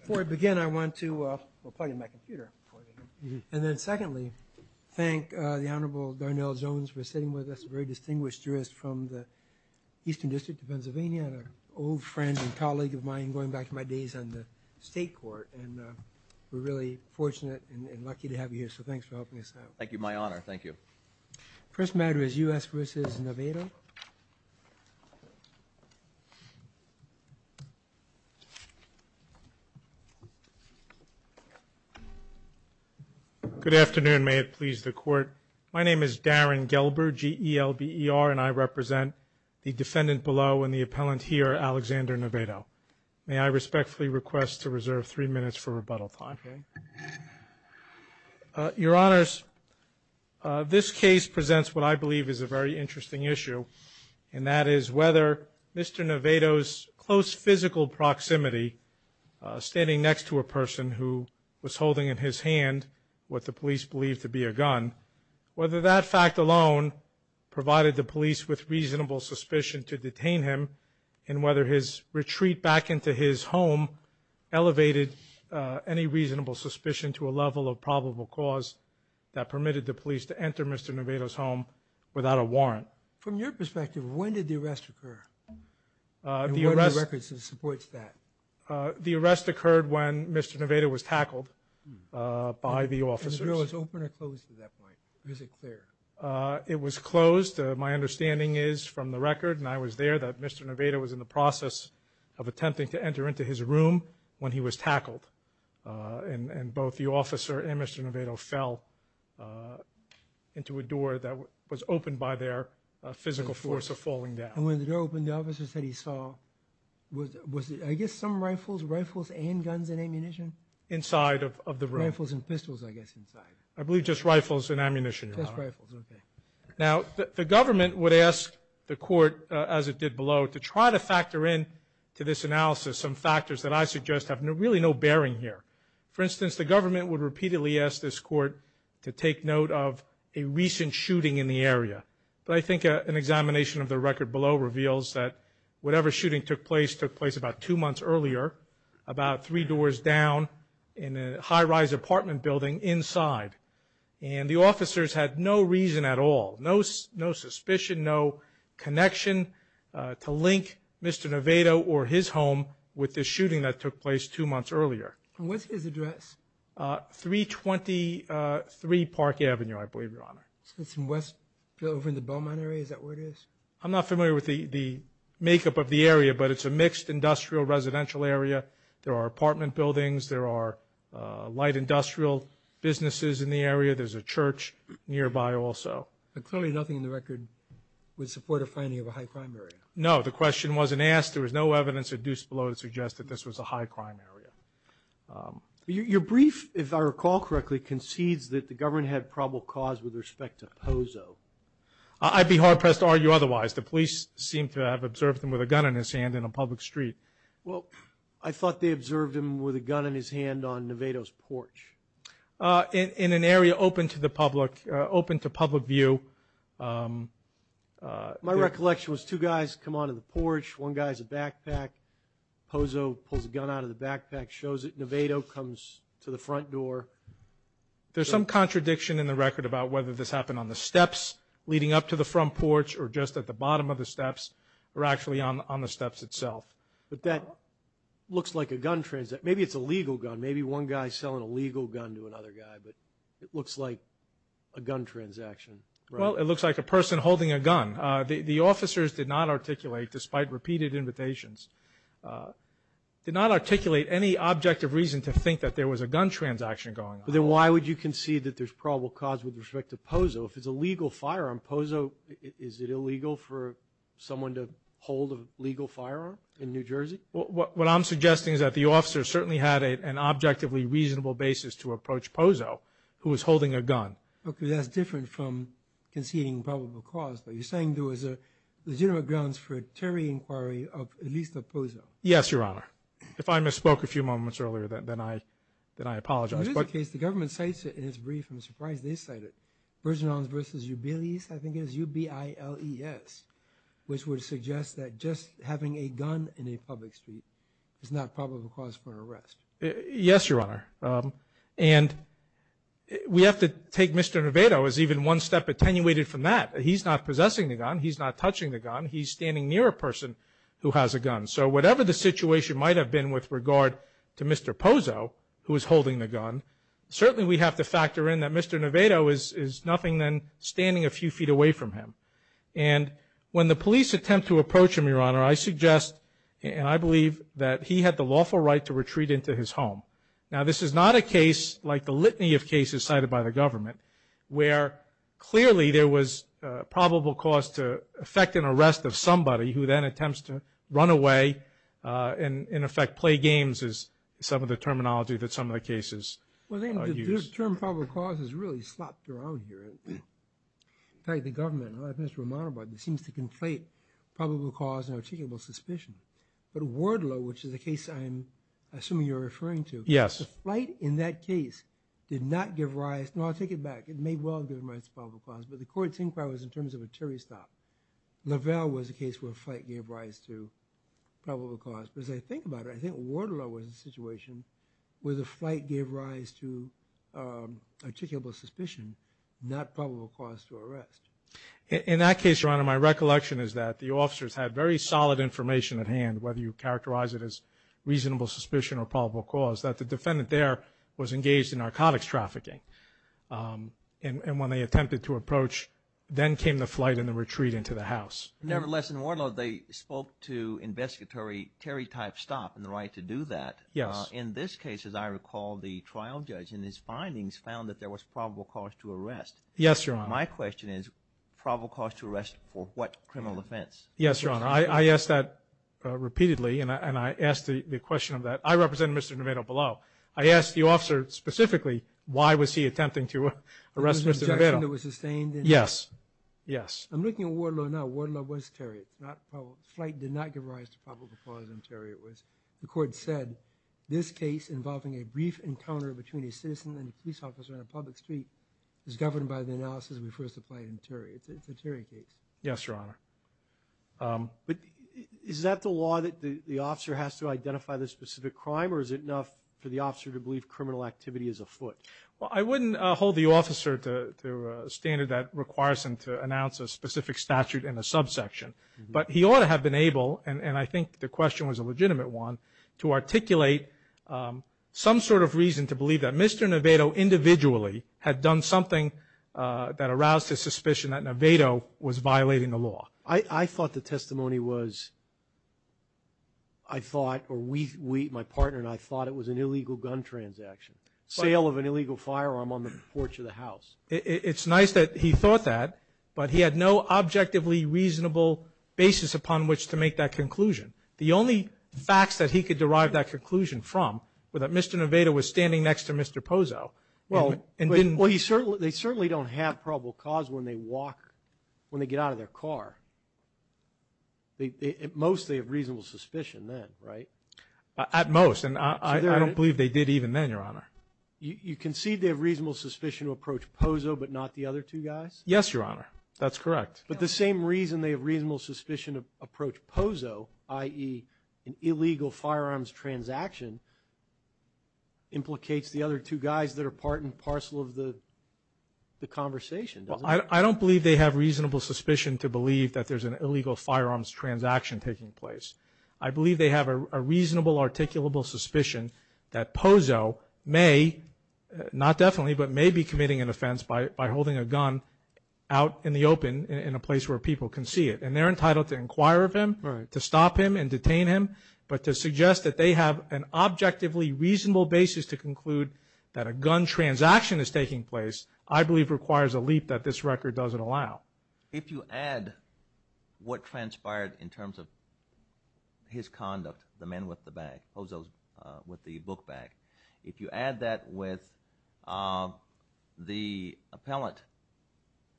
Before I begin I want to plug in my computer and then secondly thank the Honorable Darnell Jones for sitting with us a very distinguished jurist from the Eastern District of Pennsylvania and an old friend and colleague of mine going back to my days on the state court and we're really fortunate and lucky to have you here so thanks for helping us out. Thank you my honor thank you. First matter is U.S. versus Navedo. Good afternoon may it please the court my name is Darren Gelber G-E-L-B-E-R and I represent the defendant below and the appellant here Alexander Navedo. May I respectfully request to reserve three rebuttal time. Your honors this case presents what I believe is a very interesting issue and that is whether Mr. Navedo's close physical proximity standing next to a person who was holding in his hand what the police believed to be a gun whether that fact alone provided the police with reasonable suspicion to detain him and whether his retreat back into his home elevated any reasonable suspicion to a level of probable cause that permitted the police to enter Mr. Navedo's home without a warrant. From your perspective when did the arrest occur? The arrest occurred when Mr. Navedo was tackled by the officers. It was closed my understanding is from the record and I was there that Mr. Navedo was in the process of attempting to enter into his room when he was tackled and both the officer and Mr. Navedo fell into a door that was opened by their physical force of falling down. And when the door opened the officer said he saw was it I guess some rifles rifles and guns and ammunition? Inside of the room. Rifles and pistols I guess inside. I believe just rifles and ammunition. Now the government would ask the court as it did below to try to factor in to this analysis some factors that I suggest have no really no bearing here. For instance the government would repeatedly ask this court to take note of a recent shooting in the area. But I think an examination of the record below reveals that whatever shooting took place took place about two months earlier about three doors down in a high-rise apartment building inside. And the officers had no reason at all, no suspicion, no connection to link Mr. Navedo or his home with the shooting that took place two months earlier. What's his address? 323 Park Avenue I believe your honor. It's over in the Beaumont area is that where it is? I'm not familiar with the makeup of the area but it's a mixed industrial residential area. There are apartment buildings, there are light industrial businesses in the area, there's a church nearby also. But clearly nothing in the record would support a finding of a high crime area. No the question wasn't asked there was no evidence induced below to suggest that this was a high crime area. Your brief if I recall correctly concedes that the government had probable cause with respect to Pozo. I'd be hard-pressed to argue otherwise. The police seem to have observed him with a gun in his hand in a public street. Well I thought they In an area open to the public, open to public view. My recollection was two guys come on to the porch, one guy's a backpack, Pozo pulls a gun out of the backpack, shows it, Navedo comes to the front door. There's some contradiction in the record about whether this happened on the steps leading up to the front porch or just at the bottom of the steps or actually on the steps itself. But that a legal gun to another guy but it looks like a gun transaction. Well it looks like a person holding a gun. The officers did not articulate despite repeated invitations, did not articulate any objective reason to think that there was a gun transaction going on. Then why would you concede that there's probable cause with respect to Pozo? If it's a legal firearm, Pozo, is it illegal for someone to hold a legal firearm in New Jersey? What I'm suggesting is that the basis to approach Pozo who is holding a gun. Okay that's different from conceding probable cause but you're saying there was a legitimate grounds for a terror inquiry of at least of Pozo. Yes your honor. If I misspoke a few moments earlier then I then I apologize. In this case the government cites it in its brief. I'm surprised they cite it. Virgin Islands versus UBILES, I think it is U-B-I-L-E-S, which would suggest that just having a gun in a public street is not probable cause for arrest. Yes your honor and we have to take Mr. Nevado as even one step attenuated from that. He's not possessing the gun, he's not touching the gun, he's standing near a person who has a gun. So whatever the situation might have been with regard to Mr. Pozo who is holding the gun, certainly we have to factor in that Mr. Nevado is nothing than standing a few feet away from him. And when the police attempt to approach him your honor, I suggest and I believe that he had the lawful right to retreat into his home. Now this is not a case like the litany of cases cited by the government where clearly there was probable cause to effect an arrest of somebody who then attempts to run away and in effect play games is some of the terminology that some of the cases use. Well I think the term probable cause is really slopped around here. In fact the government, like Mr. Romanova, seems to conflate probable cause and articulable suspicion. But Wardlow, which is a case I'm assuming you're referring to. Yes. The flight in that case did not give rise, no I'll take it back, it may well give rise to probable cause, but the court's inquiry was in terms of a Terry stop. Lavelle was a case where flight gave rise to probable cause. But as I think about it, I think Wardlow was a situation where the flight gave rise to articulable suspicion, not probable cause to arrest. In that case your honor, my recollection is that the officers had very solid information at reasonable suspicion or probable cause. That the defendant there was engaged in narcotics trafficking. And when they attempted to approach, then came the flight and the retreat into the house. Nevertheless in Wardlow they spoke to investigatory Terry type stop and the right to do that. Yes. In this case as I recall the trial judge in his findings found that there was probable cause to arrest. Yes your honor. My question is probable cause to arrest for what the question of that. I represent Mr. Lavelle below. I asked the officer specifically why was he attempting to arrest Mr. Lavelle. There was an objection that was sustained. Yes. I'm looking at Wardlow now. Wardlow was Terry. The flight did not give rise to probable cause and Terry it was. The court said this case involving a brief encounter between a citizen and a police officer on a public street is governed by the analysis we first applied in Terry. It's a Terry case. Yes your honor. But is that the law that the officer has to identify the specific crime or is it enough for the officer to believe criminal activity is afoot? Well I wouldn't hold the officer to a standard that requires him to announce a specific statute in the subsection. But he ought to have been able and I think the question was a legitimate one to articulate some sort of reason to believe that Mr. Lavelle individually had done something that aroused his suspicion that Lavelle was violating the or my partner and I thought it was an illegal gun transaction. Sale of an illegal firearm on the porch of the house. It's nice that he thought that but he had no objectively reasonable basis upon which to make that conclusion. The only facts that he could derive that conclusion from were that Mr. Novato was standing next to Mr. Pozo. Well they certainly don't have probable cause when they walk, when they get out of their car. They mostly have right? At most and I don't believe they did even then your honor. You concede they have reasonable suspicion to approach Pozo but not the other two guys? Yes your honor that's correct. But the same reason they have reasonable suspicion of approach Pozo i.e. an illegal firearms transaction implicates the other two guys that are part and parcel of the the conversation. I don't believe they have reasonable suspicion to believe that there's an illegal firearms transaction taking place. I believe they have a reasonable articulable suspicion that Pozo may not definitely but may be committing an offense by holding a gun out in the open in a place where people can see it and they're entitled to inquire of him to stop him and detain him but to suggest that they have an objectively reasonable basis to conclude that a gun transaction is taking place I believe requires a leap that this record doesn't allow. If you add what transpired in terms of his conduct, the men with the bag, Pozo's with the book bag, if you add that with the appellant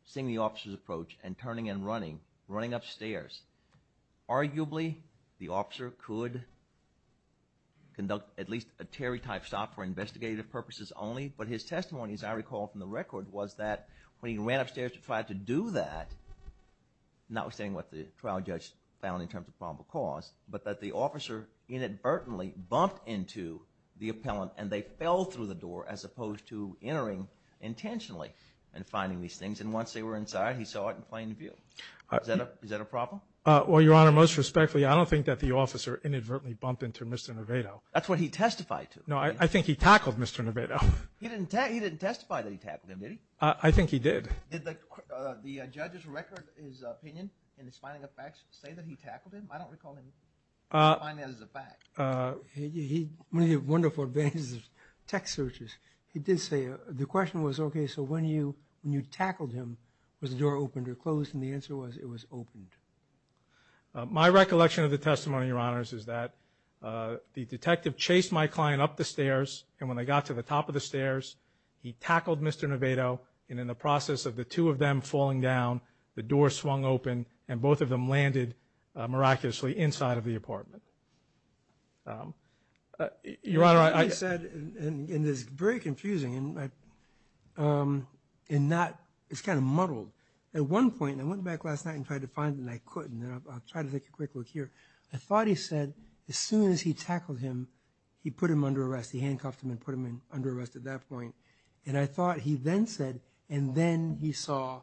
seeing the officer's approach and turning and running, running upstairs, arguably the officer could conduct at least a Terry type stop for investigative purposes only but his testimony as I recall from the record was that when he ran upstairs to try to do that, notwithstanding what the trial judge found in terms of probable cause, but that the officer inadvertently bumped into the appellant and they fell through the door as opposed to entering intentionally and finding these things and once they were inside he saw it in plain view. Is that a problem? Well, Your Honor, most respectfully I don't think that the officer inadvertently bumped into Mr. Nervato. That's what he testified to. No, I think he tackled Mr. Nervato. He didn't testify that he tackled him, did he? I think he did. Did the judge's record, his opinion, in his finding of facts say that he tackled him? I don't recall him finding that as a fact. He had wonderful advantages of text searches. He did say the question was okay so when you when you tackled him was the door opened or closed and the answer was it was opened. My recollection of the testimony, Your Honors, is that the detective chased my client up the stairs and when they got to the top of the stairs he tackled Mr. Nervato and in the process of the two of them falling down the door swung open and both of them landed miraculously inside of the apartment. Your Honor, I said and it's very confusing and it's kind of muddled. At one point, I went back last night and tried to find and I couldn't. I'll try to take a quick look here. I thought he said as soon as he tackled him he put him under arrest. He handcuffed him and put him in under arrest at that point and I thought he then said and then he saw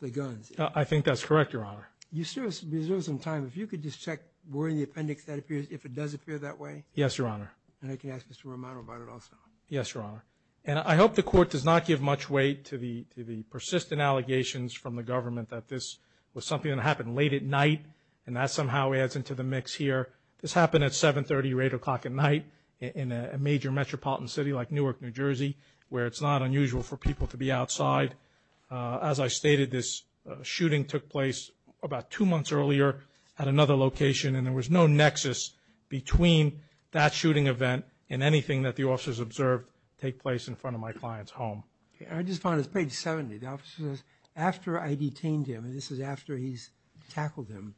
the guns. I think that's correct, Your Honor. You still have some time. If you could just check where in the appendix that appears if it does appear that way. Yes, Your Honor. And I can ask Mr. Romano about it also. Yes, Your Honor. And I hope the court does not give much weight to the persistent allegations from the government that this was something that happened late at night and that somehow adds into the mix here. This happened at 730 or 8 o'clock at night in a major metropolitan city like Newark, New Jersey where it's not unusual for people to be outside. As I stated, this shooting took place about two months earlier at another location and there was no nexus between that shooting event and anything that the officers observed take place in front of my client's home. I just found it's page 70. The officer says, after I detained him and this is after he's tackled him.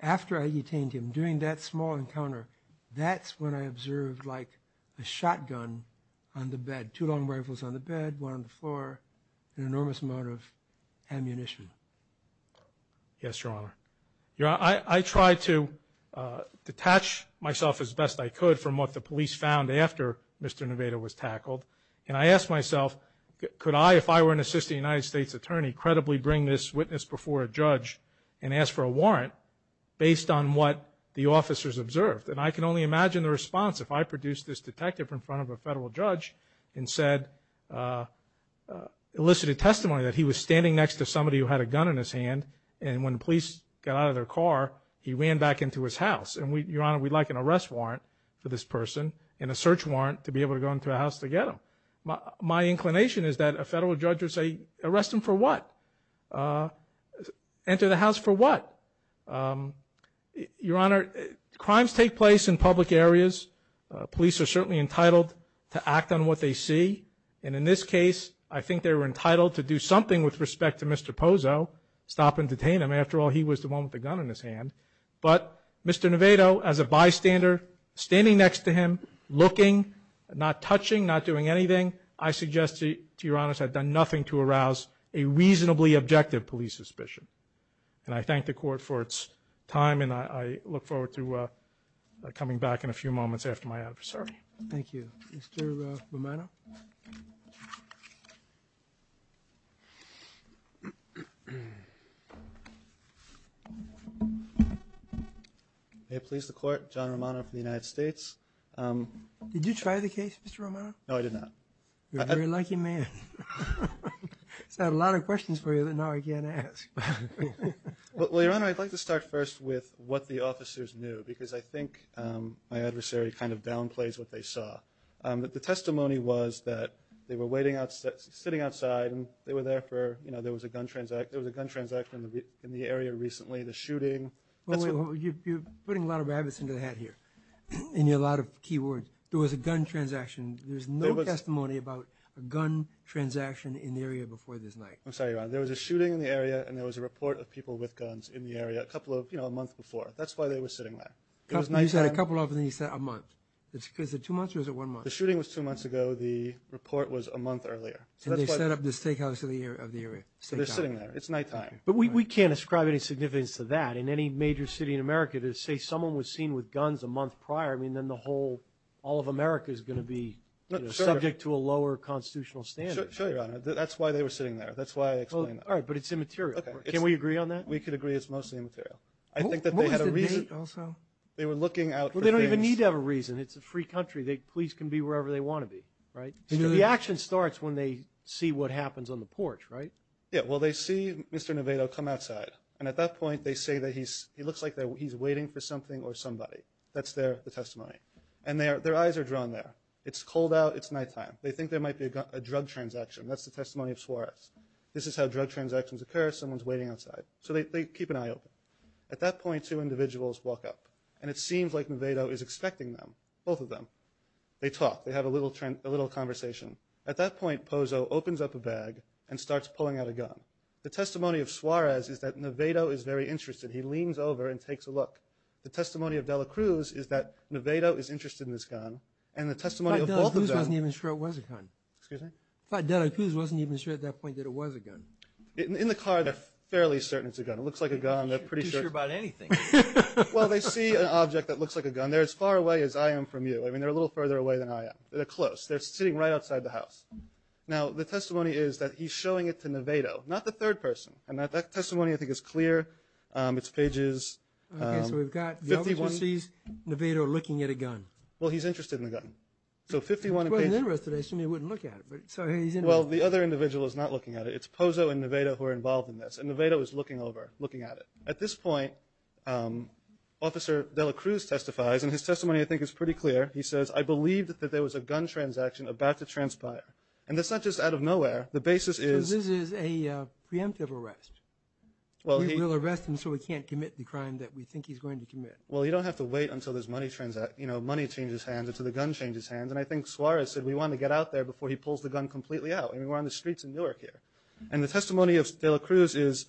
After I detained him, during that small encounter, that's when I found a shotgun on the bed. Two long rifles on the bed, one on the floor, an enormous amount of ammunition. Yes, Your Honor. Your Honor, I tried to detach myself as best I could from what the police found after Mr. Nevada was tackled. And I asked myself, could I, if I were an assistant United States attorney, credibly bring this witness before a judge and ask for a warrant based on what the officers observed? And I can only imagine the response if I produced this detective in front of a federal judge and said, elicited testimony that he was standing next to somebody who had a gun in his hand and when police got out of their car, he ran back into his house. And Your Honor, we'd like an arrest warrant for this person and a search warrant to be able to go into a house to get him. My inclination is that a federal judge would say, arrest him for what? Enter the house for what? Your Honor, crimes take place in public areas. Police are certainly entitled to act on what they see. And in this case, I think they were entitled to do something with respect to Mr. Pozo, stop and detain him. After all, he was the one with the gun in his hand. But Mr. Nevada, as a bystander, standing next to him, looking, not touching, not doing anything, I suggest to Your Honor, I've done nothing to arouse a reasonably objective police suspicion. And I thank the court for its time and I look forward to coming back in a few moments after my adversary. Thank you. Mr. Romano? May it please the court, John Romano from the United States. Did you try the case, Mr. Romano? No, I did not. You're a very lucky man. I had a lot of questions for you that now I can't ask. Well, Your Honor, I'd like to start first with what the officers knew because I think the adversary kind of downplays what they saw. The testimony was that they were waiting outside, sitting outside, and they were there for, you know, there was a gun transaction in the area recently, the shooting. You're putting a lot of rabbits into the hat here and a lot of key words. There was a gun transaction. There's no testimony about a gun transaction in the area before this night. I'm sorry, Your Honor. There was a shooting in the area and there was a report of people with guns in the area a couple of, you know, a month before. That's why they were sitting there. It was nighttime. You said a couple of and then you said a month. Was it two months or was it one month? The shooting was two months ago. The report was a month earlier. And they set up the steakhouse in the area. So they're sitting there. It's nighttime. But we can't ascribe any significance to that in any major city in America to say someone was seen with guns a month prior. I mean, then the whole, all of America is going to be subject to a lower constitutional standard. Sure, Your Honor. That's why they were sitting there. That's why I explained that. All right, but it's immaterial. Can we agree on that? We could agree it's mostly immaterial. I think that they had a reason. What was the date also? They were looking out for things. Well, they don't even need to have a reason. It's a free country. The police can be wherever they want to be, right? The action starts when they see what happens on the porch, right? Yeah, well, they see Mr. Nevado come outside. And at that point, they say that he looks like he's waiting for something or somebody. That's their testimony. And their eyes are drawn there. It's cold out. It's nighttime. They think there might be a drug transaction. That's the testimony of Suarez. This is how drug transactions occur. Someone's waiting outside. So they keep an eye open. At that point, two individuals walk up. And it seems like Nevado is expecting them, both of them. They talk. They have a little conversation. At that point, Pozo opens up a bag and starts pulling out a gun. The testimony of Suarez is that Nevado is very interested. He leans over and takes a look. The testimony of Dela Cruz is that Nevado is interested in this gun. And the testimony of both of them... I thought Dela Cruz wasn't even sure it was a gun. I thought Dela Cruz wasn't even sure at that point that it was a gun. In the car, they're fairly certain it's a gun. It looks like a gun. They're pretty sure about anything. Well, they see an object that looks like a gun. They're as far away as I am from you. I mean, they're a little further away than I am. They're close. They're sitting right outside the house. Now, the testimony is that he's showing it to Nevado, not the third person. And that testimony, I think, is clear. It's pages... Okay, so we've got the other two sees Nevado looking at a gun. Well, he's Well, the other individual is not looking at it. It's Pozo and Nevado who are involved in this. And Nevado is looking over, looking at it. At this point, Officer Dela Cruz testifies, and his testimony, I think, is pretty clear. He says, I believed that there was a gun transaction about to transpire. And that's not just out of nowhere. The basis is... So this is a preemptive arrest. We'll arrest him so he can't commit the crime that we think he's going to commit. Well, you don't have to wait until this money transaction, you know, money changes hands until the gun changes hands. And I think Suarez said we want to get out there before he pulls the gun completely out. I mean, we're on the streets in Newark here. And the testimony of Dela Cruz is,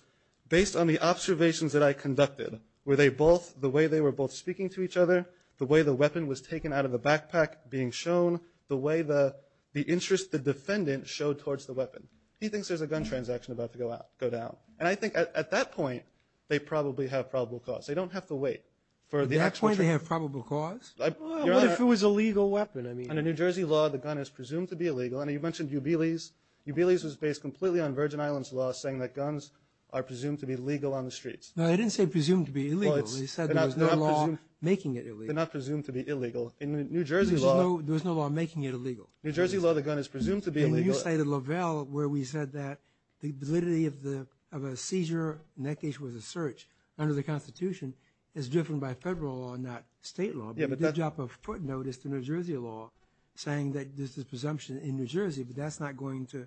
based on the observations that I conducted, were they both, the way they were both speaking to each other, the way the weapon was taken out of the backpack being shown, the way the interest, the defendant, showed towards the weapon. He thinks there's a gun transaction about to go out, go down. And I think at that point, they probably have probable cause. They don't have to wait for the actual... At that point, they have probable cause? Well, what if it was a legal weapon? I mean... Under New Jersey law, the gun is presumed to be illegal. And you mentioned Ubele's. Ubele's was based completely on Virgin Islands law, saying that guns are presumed to be legal on the streets. No, they didn't say presumed to be illegal. They said there was no law making it illegal. They're not presumed to be illegal. In New Jersey law... There was no law making it illegal. In New Jersey law, the gun is presumed to be illegal. And you cited Lovell, where we said that the validity of a seizure, in that case, was a search, under the Constitution, is driven by federal law, not state law. Yeah, but that's a drop of foot notice to New Jersey law, saying that there's this presumption in New Jersey, but that's not going to...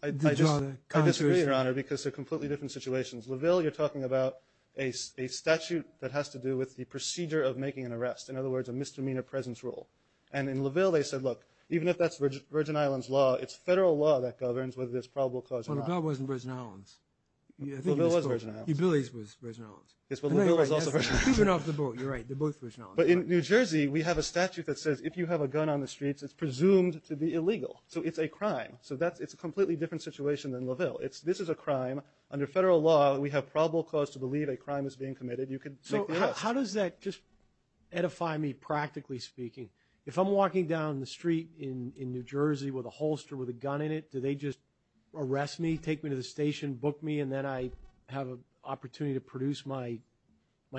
I disagree, Your Honor, because they're completely different situations. Lovell, you're talking about a statute that has to do with the procedure of making an arrest, in other words, a misdemeanor presence rule. And in Lovell, they said, look, even if that's Virgin Islands law, it's federal law that governs whether there's probable cause or not. Well, Lovell wasn't Virgin Islands. Lovell was Virgin Islands. Ubele's was Virgin Islands. Ubele was also Virgin Islands. Even off the boat, you're right. They're both Virgin Islands. But in New Jersey, we have a statute that says, if you have a gun on the streets, it's presumed to be illegal. So it's a crime. So it's a completely different situation than Lovell. This is a crime. Under federal law, we have probable cause to believe a crime is being committed. You could make the arrest. So how does that just edify me, practically speaking? If I'm walking down the street in New Jersey with a holster with a gun in it, do they just arrest me, take me to the station, book me, and then I have an opportunity to produce my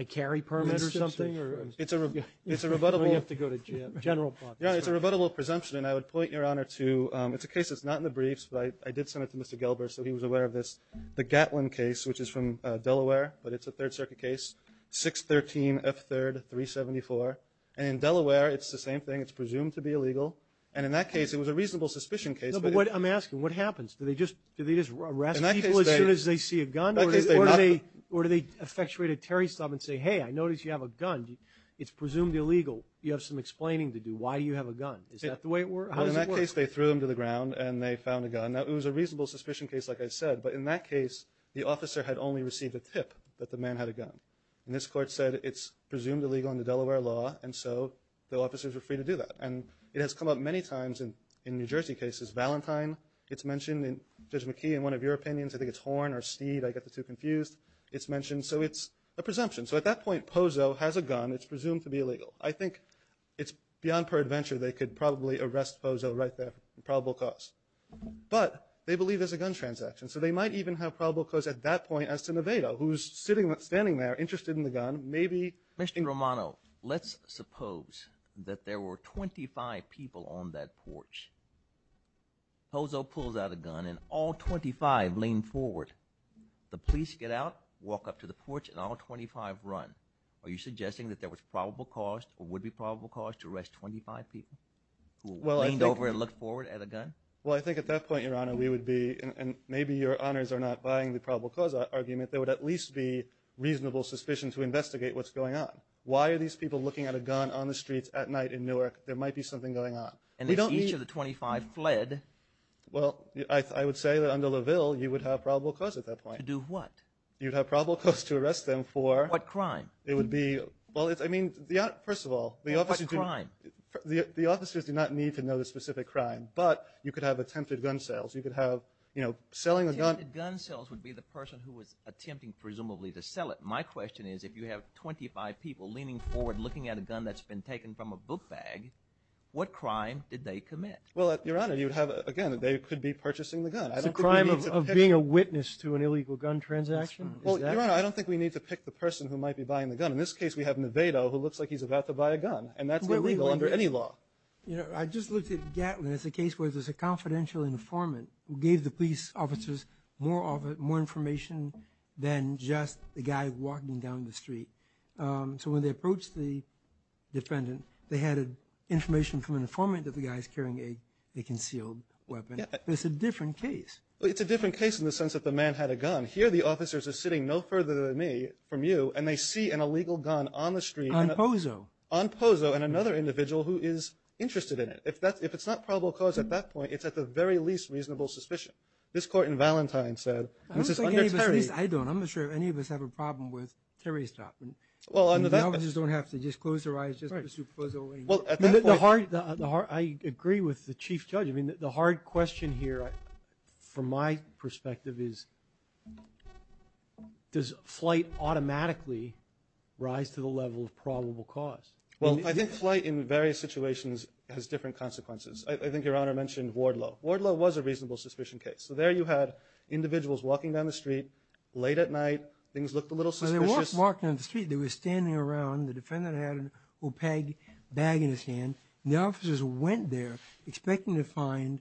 carry permit or something? It's a rebuttable presumption, and I would point your honor to, it's a case that's not in the briefs, but I did send it to Mr. Gelber, so he was aware of this. The Gatlin case, which is from Delaware, but it's a Third Circuit case, 613 F3rd 374, and in Delaware, it's the same thing. It's presumed to be illegal. And in that case, it was a reasonable suspicion case. No, but I'm asking, what happens? Do they just arrest people as soon as they see a gun, or do they effectuate a Terry stop and say, hey, I noticed you have a gun. It's presumed illegal. You have some explaining to do. Why do you have a gun? Is that the way it works? Well, in that case, they threw him to the ground, and they found a gun. Now, it was a reasonable suspicion case, like I said, but in that case, the officer had only received a tip that the man had a gun. And this court said it's presumed illegal under Delaware law, and so the officers were free to do that. And it has come up many times in New Jersey cases. Valentine, it's mentioned. Judge McKee, in one of your opinions, I think it's Horne or Steed. I get the two confused. It's mentioned. So it's a presumption. So at that point, Pozo has a gun. It's presumed to be illegal. I think it's beyond peradventure. They could probably arrest Pozo right there for probable cause. But they believe there's a gun transaction, so they might even have probable cause at that point as to Nevado, who's standing there interested in the gun. Mr. Romano, let's suppose that there were 25 people on that porch. Pozo pulls out a gun, and all 25 lean forward. The police get out, walk up to the porch, and all 25 run. Are you suggesting that there was probable cause or would be probable cause to arrest 25 people who leaned over and looked forward at a gun? Well, I think at that point, Your Honor, we would be, and maybe your honors are not buying the probable cause argument, there would at least be reasonable suspicion to investigate what's going on. Why are these people looking at a gun on the streets at night in Newark? There might be something going on. And if each of the 25 fled... Well, I would say that under LaVille, you would have probable cause at that point. To do what? You'd have probable cause to arrest them for... What crime? It would be, well, I mean, first of all, the officers do not need to know the specific crime. But you could have attempted gun sales. You could have, you know, selling a gun... Attempted gun sales would be the person who was attempting, presumably, to have 25 people leaning forward, looking at a gun that's been taken from a book bag. What crime did they commit? Well, Your Honor, you'd have, again, they could be purchasing the gun. It's a crime of being a witness to an illegal gun transaction? Well, Your Honor, I don't think we need to pick the person who might be buying the gun. In this case, we have Nevado, who looks like he's about to buy a gun. And that's illegal under any law. You know, I just looked at Gatlin as a case where there's a confidential informant who gave the police officers more information than just the guy walking down the street. So when they approached the defendant, they had information from an informant that the guy's carrying a concealed weapon. It's a different case. Well, it's a different case in the sense that the man had a gun. Here, the officers are sitting no further than me from you, and they see an illegal gun on the street... On Pozo. On Pozo, and another individual who is interested in it. If that's, if it's not probable cause at that point, it's at the very least reasonable suspicion. This court in Valentine said... I don't think any of us, at least I don't, I'm not sure any of us have a problem with Terry's dropping. Well, under that... The officers don't have to just close their eyes just to pursue Pozo. Well, at that point... I agree with the Chief Judge. I mean, the hard question here, from my perspective, is does flight automatically rise to the level of probable cause? Well, I think flight in various situations has different consequences. I think Your Honor mentioned Wardlow. Wardlow was a reasonable suspicion case. So there you had individuals walking down the street, late at night, things looked a little suspicious... When they walked, walked down the street, they were standing around, the defendant had an opaque bag in his hand, and the officers went there expecting to find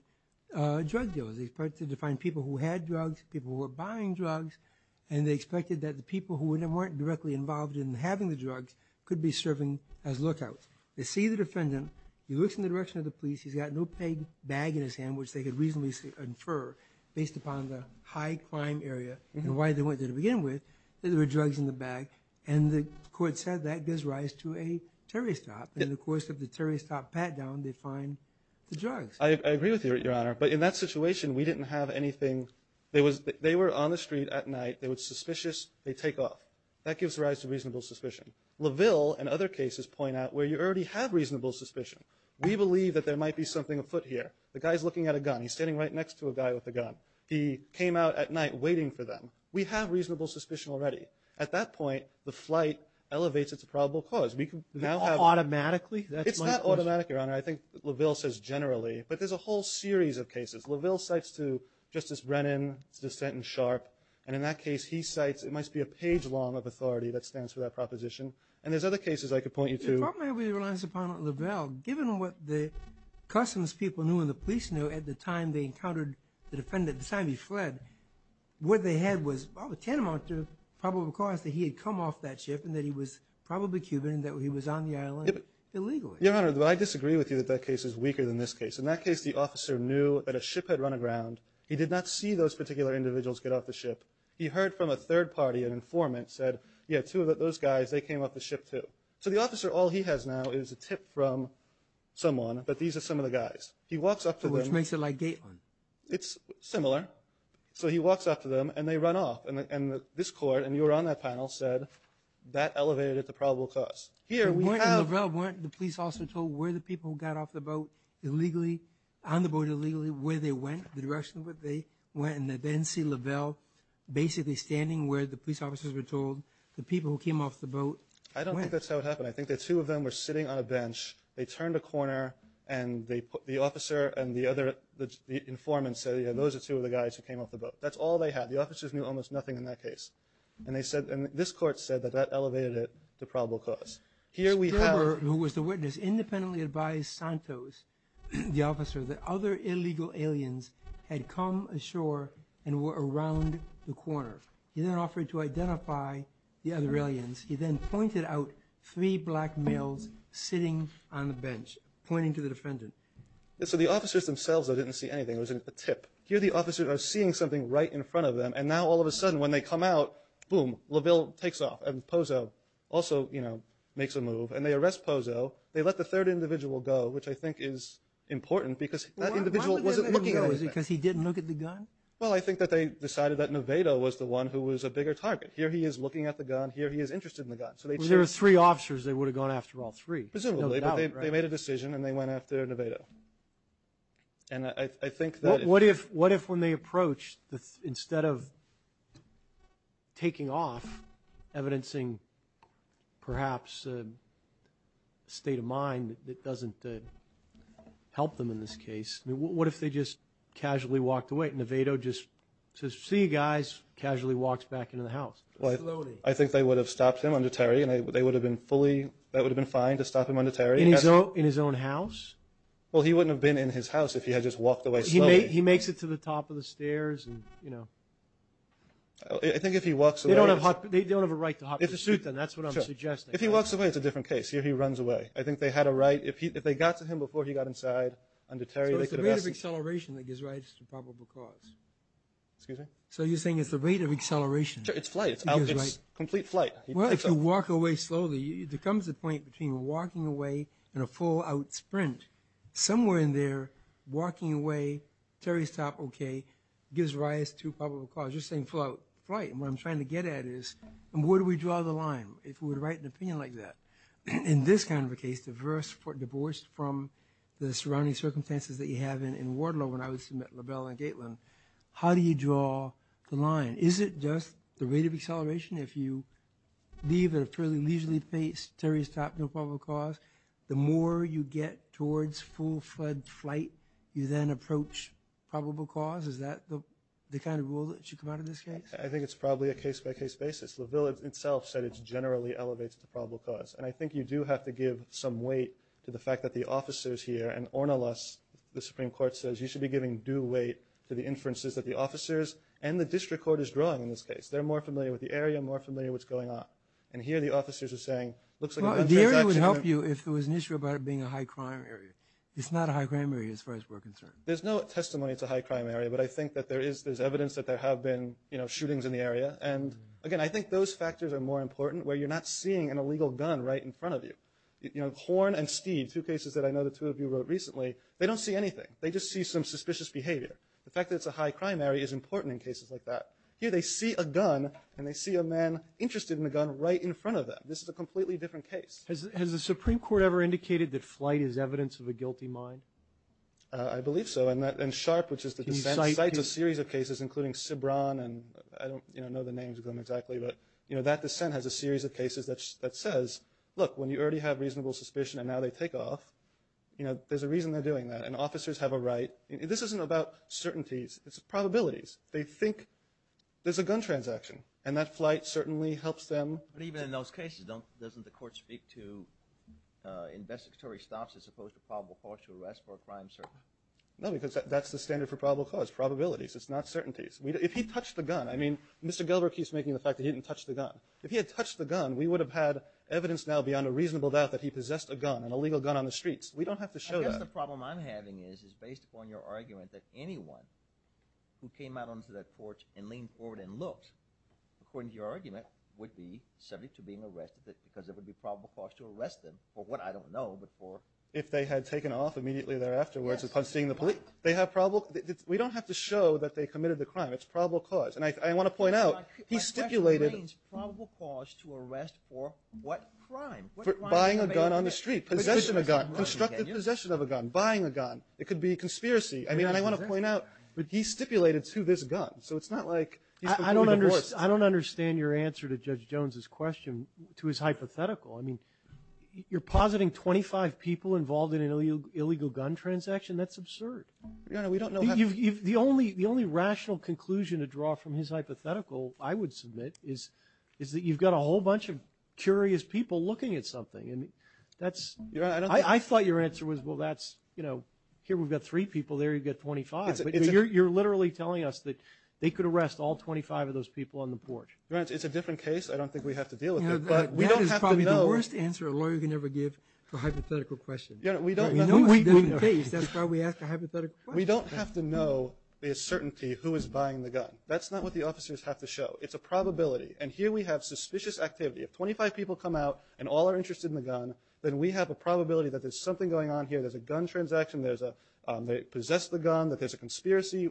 drug dealers. They expected to find people who had drugs, people who were buying drugs, and they expected that the people who weren't directly involved in having the drugs could be serving as lookouts. They see the defendant, he looks in the direction of the police, he's got an opaque bag in his hand, which they could reasonably infer, based upon the high crime area and why they went there to begin with, that there were drugs in the bag, and the court said that gives rise to a Terry stop, and in the course of the Terry stop pat-down, they find the drugs. I agree with you, Your Honor, but in that situation, we didn't have anything... They were on the street at night, they were suspicious, they take off. That gives rise to reasonable suspicion. LaVille and other cases point out where you already have a gun. He's standing right next to a guy with a gun. He came out at night waiting for them. We have reasonable suspicion already. At that point, the flight elevates its probable cause. We can now have... Automatically? It's not automatic, Your Honor. I think LaVille says generally, but there's a whole series of cases. LaVille cites to Justice Brennan's dissent in Sharp, and in that case, he cites, it must be a page long of authority that stands for that proposition, and there's other cases I could at the time they encountered the defendant, the time he fled, what they had was a tantamount to probable cause that he had come off that ship, and that he was probably Cuban, and that he was on the island illegally. Your Honor, I disagree with you that that case is weaker than this case. In that case, the officer knew that a ship had run aground. He did not see those particular individuals get off the ship. He heard from a third party, an informant, said, yeah, two of those guys, they came off the ship too. So the officer, all he has now is a tip from someone, but these are some of the guys. He walks up to them. Which makes it like Gateland. It's similar. So he walks up to them, and they run off, and this court, and you were on that panel, said that elevated it to probable cause. Here, we have- Weren't LaVille, weren't the police also told where the people got off the boat illegally, on the boat illegally, where they went, the direction where they went, and they didn't see LaVille basically standing where the police officers were told the people who came off the boat went. I don't think that's how it happened. I think the two of them were sitting on a bench. They turned a corner, and the officer and the other, the informant said, yeah, those are two of the guys who came off the boat. That's all they had. The officers knew almost nothing in that case. And they said, and this court said that that elevated it to probable cause. Here we have- Gerber, who was the witness, independently advised Santos, the officer, that other illegal aliens had come ashore and were around the corner. He then offered to identify the other black males sitting on the bench, pointing to the defendant. So the officers themselves, though, didn't see anything. It was a tip. Here, the officers are seeing something right in front of them, and now all of a sudden, when they come out, boom, LaVille takes off. And Pozo also, you know, makes a move. And they arrest Pozo. They let the third individual go, which I think is important, because that individual wasn't looking at anything. Because he didn't look at the gun? Well, I think that they decided that Nevado was the one who was a bigger target. Here he is looking at the gun. Here he is interested in the gun. There were three officers. They would have gone after all three. Presumably, but they made a decision and they went after Nevado. And I think that- What if, what if when they approached, instead of taking off, evidencing perhaps a state of mind that doesn't help them in this case, what if they just casually walked away? Nevado just says, see you guys, casually walks back into the house. Slowly. I think they would have stopped him under Terry, and they would have been fully, that would have been fine to stop him under Terry. In his own house? Well, he wouldn't have been in his house if he had just walked away slowly. He makes it to the top of the stairs, and you know. I think if he walks away- They don't have a right to hop in a suit then, that's what I'm suggesting. If he walks away, it's a different case. Here he runs away. I think they had a right, if they got to him before he got inside under Terry- So it's the rate of acceleration that gives rights to probable cause. Excuse me? So you're saying it's the rate of acceleration. It's flight. It's complete flight. Well, if you walk away slowly, there comes a point between walking away and a full-out sprint. Somewhere in there, walking away, Terry's top, okay, gives rise to probable cause. You're saying full-out flight. What I'm trying to get at is, where do we draw the line if we would write an opinion like that? In this kind of a case, divorced from the surrounding circumstances that we have in Wardlow when I was at LaBelle and Gateland, how do you draw the line? Is it just the rate of acceleration if you leave at a fairly leisurely pace, Terry's top, no probable cause? The more you get towards full-fledged flight, you then approach probable cause? Is that the kind of rule that should come out of this case? I think it's probably a case-by-case basis. LaVille itself said it generally elevates to probable cause, and I think you do have to give some weight to the fact that the officers here and Ornelas, the Supreme Court says, you should be giving due weight to the inferences that the officers and the district court is drawing in this case. They're more familiar with the area, more familiar with what's going on, and here the officers are saying, looks like a transaction. The area would help you if there was an issue about it being a high-crime area. It's not a high-crime area as far as we're concerned. There's no testimony it's a high-crime area, but I think that there is, there's evidence that there have been, you know, shootings in the area, and again, I think those factors are more important where you're not seeing an illegal gun right in front of you. You know, Horn and Steeve, two cases that I know the two of you wrote recently, they don't see anything. They just see some suspicious behavior. The fact that it's a high-crime area is important in cases like that. Here they see a gun, and they see a man interested in the gun right in front of them. This is a completely different case. Has the Supreme Court ever indicated that flight is evidence of a guilty mind? I believe so, and Sharpe, which is the defense, cites a series of cases including Cibran, and I don't, you know, know the names of them exactly, but you know, that dissent has a series of cases that says, look, when you already have reasonable suspicion and now they take off, you know, there's a reason they're doing that, and officers have a right. This isn't about certainties. It's probabilities. They think there's a gun transaction, and that flight certainly helps them. But even in those cases, don't, doesn't the court speak to investigatory stops as opposed to probable cause to arrest for a crime, sir? No, because that's the standard for probable cause, probabilities. It's not certainties. If he touched the gun, I mean, Mr. Gelber keeps making the fact that he didn't touch the gun. If he had touched the gun, we would have had evidence now beyond a reasonable doubt that he possessed a gun, an illegal gun on the streets. We don't have to show that. I guess the problem I'm having is, is based upon your argument, that anyone who came out onto that porch and leaned forward and looked, according to your argument, would be subject to being arrested because it would be probable cause to arrest them for what I don't know, but for... If they had taken off immediately there afterwards upon seeing the police. They have probable, we don't have to show that they committed the crime. It's probable cause. And I want to point out, he stipulated... By special means, probable cause to arrest for what crime? Buying a gun on the street. Possession of a gun. Constructive possession of a gun. Buying a gun. It could be conspiracy. I mean, and I want to point out, but he stipulated to this gun. So it's not like he's going to be divorced. I don't understand your answer to Judge Jones's question, to his hypothetical. I mean, you're positing 25 people involved in an illegal gun transaction. That's the only rational conclusion to draw from his hypothetical, I would submit, is that you've got a whole bunch of curious people looking at something. And that's... I thought your answer was, well, that's, you know, here we've got three people, there you've got 25. But you're literally telling us that they could arrest all 25 of those people on the porch. Your Honor, it's a different case. I don't think we have to deal with it, but we don't have to know... That is probably the worst answer a lawyer can ever give for a hypothetical question. We know it's a different case. That's why we ask a hypothetical question. We don't have to know with certainty who is buying the gun. That's not what the officers have to show. It's a probability. And here we have suspicious activity. If 25 people come out and all are interested in the gun, then we have a probability that there's something going on here. There's a gun transaction, there's a... they possess the gun, that there's a conspiracy.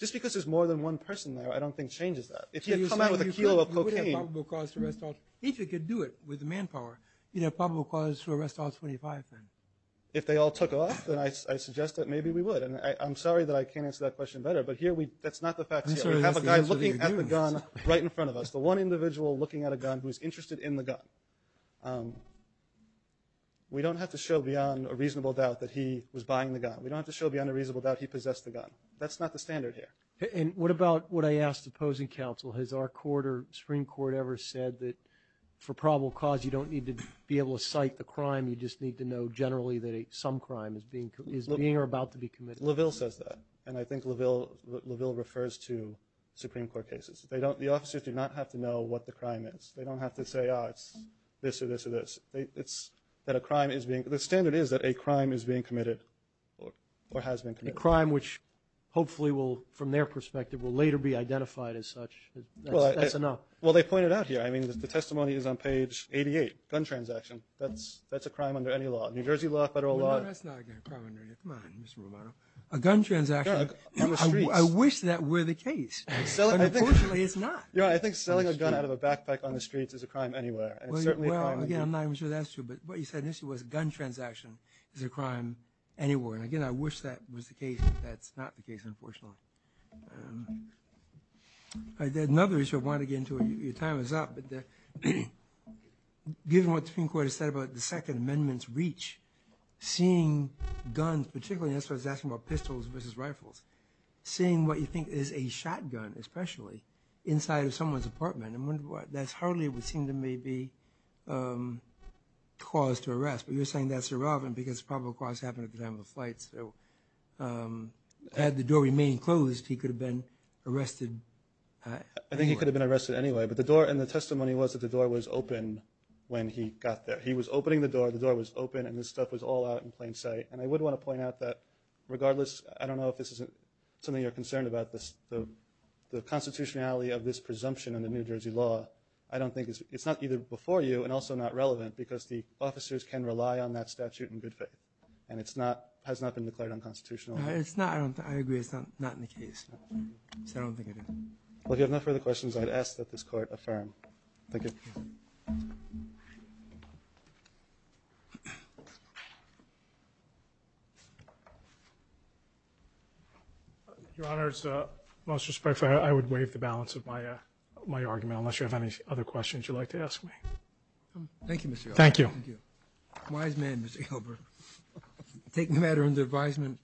Just because there's more than one person there, I don't think changes that. If you come out with a kilo of cocaine... So you're saying you wouldn't have probable cause to arrest all... If you could do it with manpower, you'd have probable cause to arrest all 25, then? If they all took off, then I suggest that maybe we would. And I'm sorry that I can't answer that question better, but here we... that's not the facts here. We have a guy looking at the gun right in front of us. The one individual looking at a gun who's interested in the gun. We don't have to show beyond a reasonable doubt that he was buying the gun. We don't have to show beyond a reasonable doubt he possessed the gun. That's not the standard here. And what about what I asked the opposing counsel? Has our court or Supreme Court ever said that for probable cause, you don't need to be able to cite the crime, you just need to know generally that some crime is being or about to be committed? LaVille says that. And I think LaVille refers to Supreme Court cases. They don't... the officers do not have to know what the crime is. They don't have to say, oh, it's this or this or this. It's that a crime is being... the standard is that a crime is being committed or has been committed. A crime which hopefully will, from their perspective, will later be identified as such. That's enough. Well, they pointed out here. I mean, the testimony is on page 88, gun transaction. That's a crime under any law. New Jersey law, federal law... No, that's not a crime under any law. Come on, Mr. Romano. A gun transaction... Yeah, on the streets. I wish that were the case. Unfortunately, it's not. Yeah, I think selling a gun out of a backpack on the streets is a crime anywhere. And it's certainly a crime... Well, again, I'm not even sure that's true. But what you said initially was a gun transaction is a crime anywhere. And again, I wish that was the case. That's not the case. Given what the Supreme Court has said about the Second Amendment's reach, seeing guns, particularly, and that's why I was asking about pistols versus rifles, seeing what you think is a shotgun, especially, inside of someone's apartment, I wonder why. That's hardly what seemed to maybe cause to arrest. But you're saying that's irrelevant because probable cause happened at the time of the flight. So had the door remained closed, he could have been arrested. I think he could have been arrested anyway. But the door and the testimony was that the door was open when he got there. He was opening the door, the door was open, and this stuff was all out in plain sight. And I would want to point out that regardless, I don't know if this isn't something you're concerned about, the constitutionality of this presumption in the New Jersey law, I don't think it's... It's not either before you and also not relevant because the officers can rely on that statute in good faith. And it's not, has not been declared unconstitutional. It's not, I agree, it's not in the case. So I don't think it is. Well, if you have no further questions, I'd ask that this court affirm. Thank you. Your Honor, most respectfully, I would waive the balance of my argument unless you have any other questions you'd like to ask me. Thank you, Mr. Gilbert. Thank you. Wise man, Mr. Gilbert, taking the matter under advisement.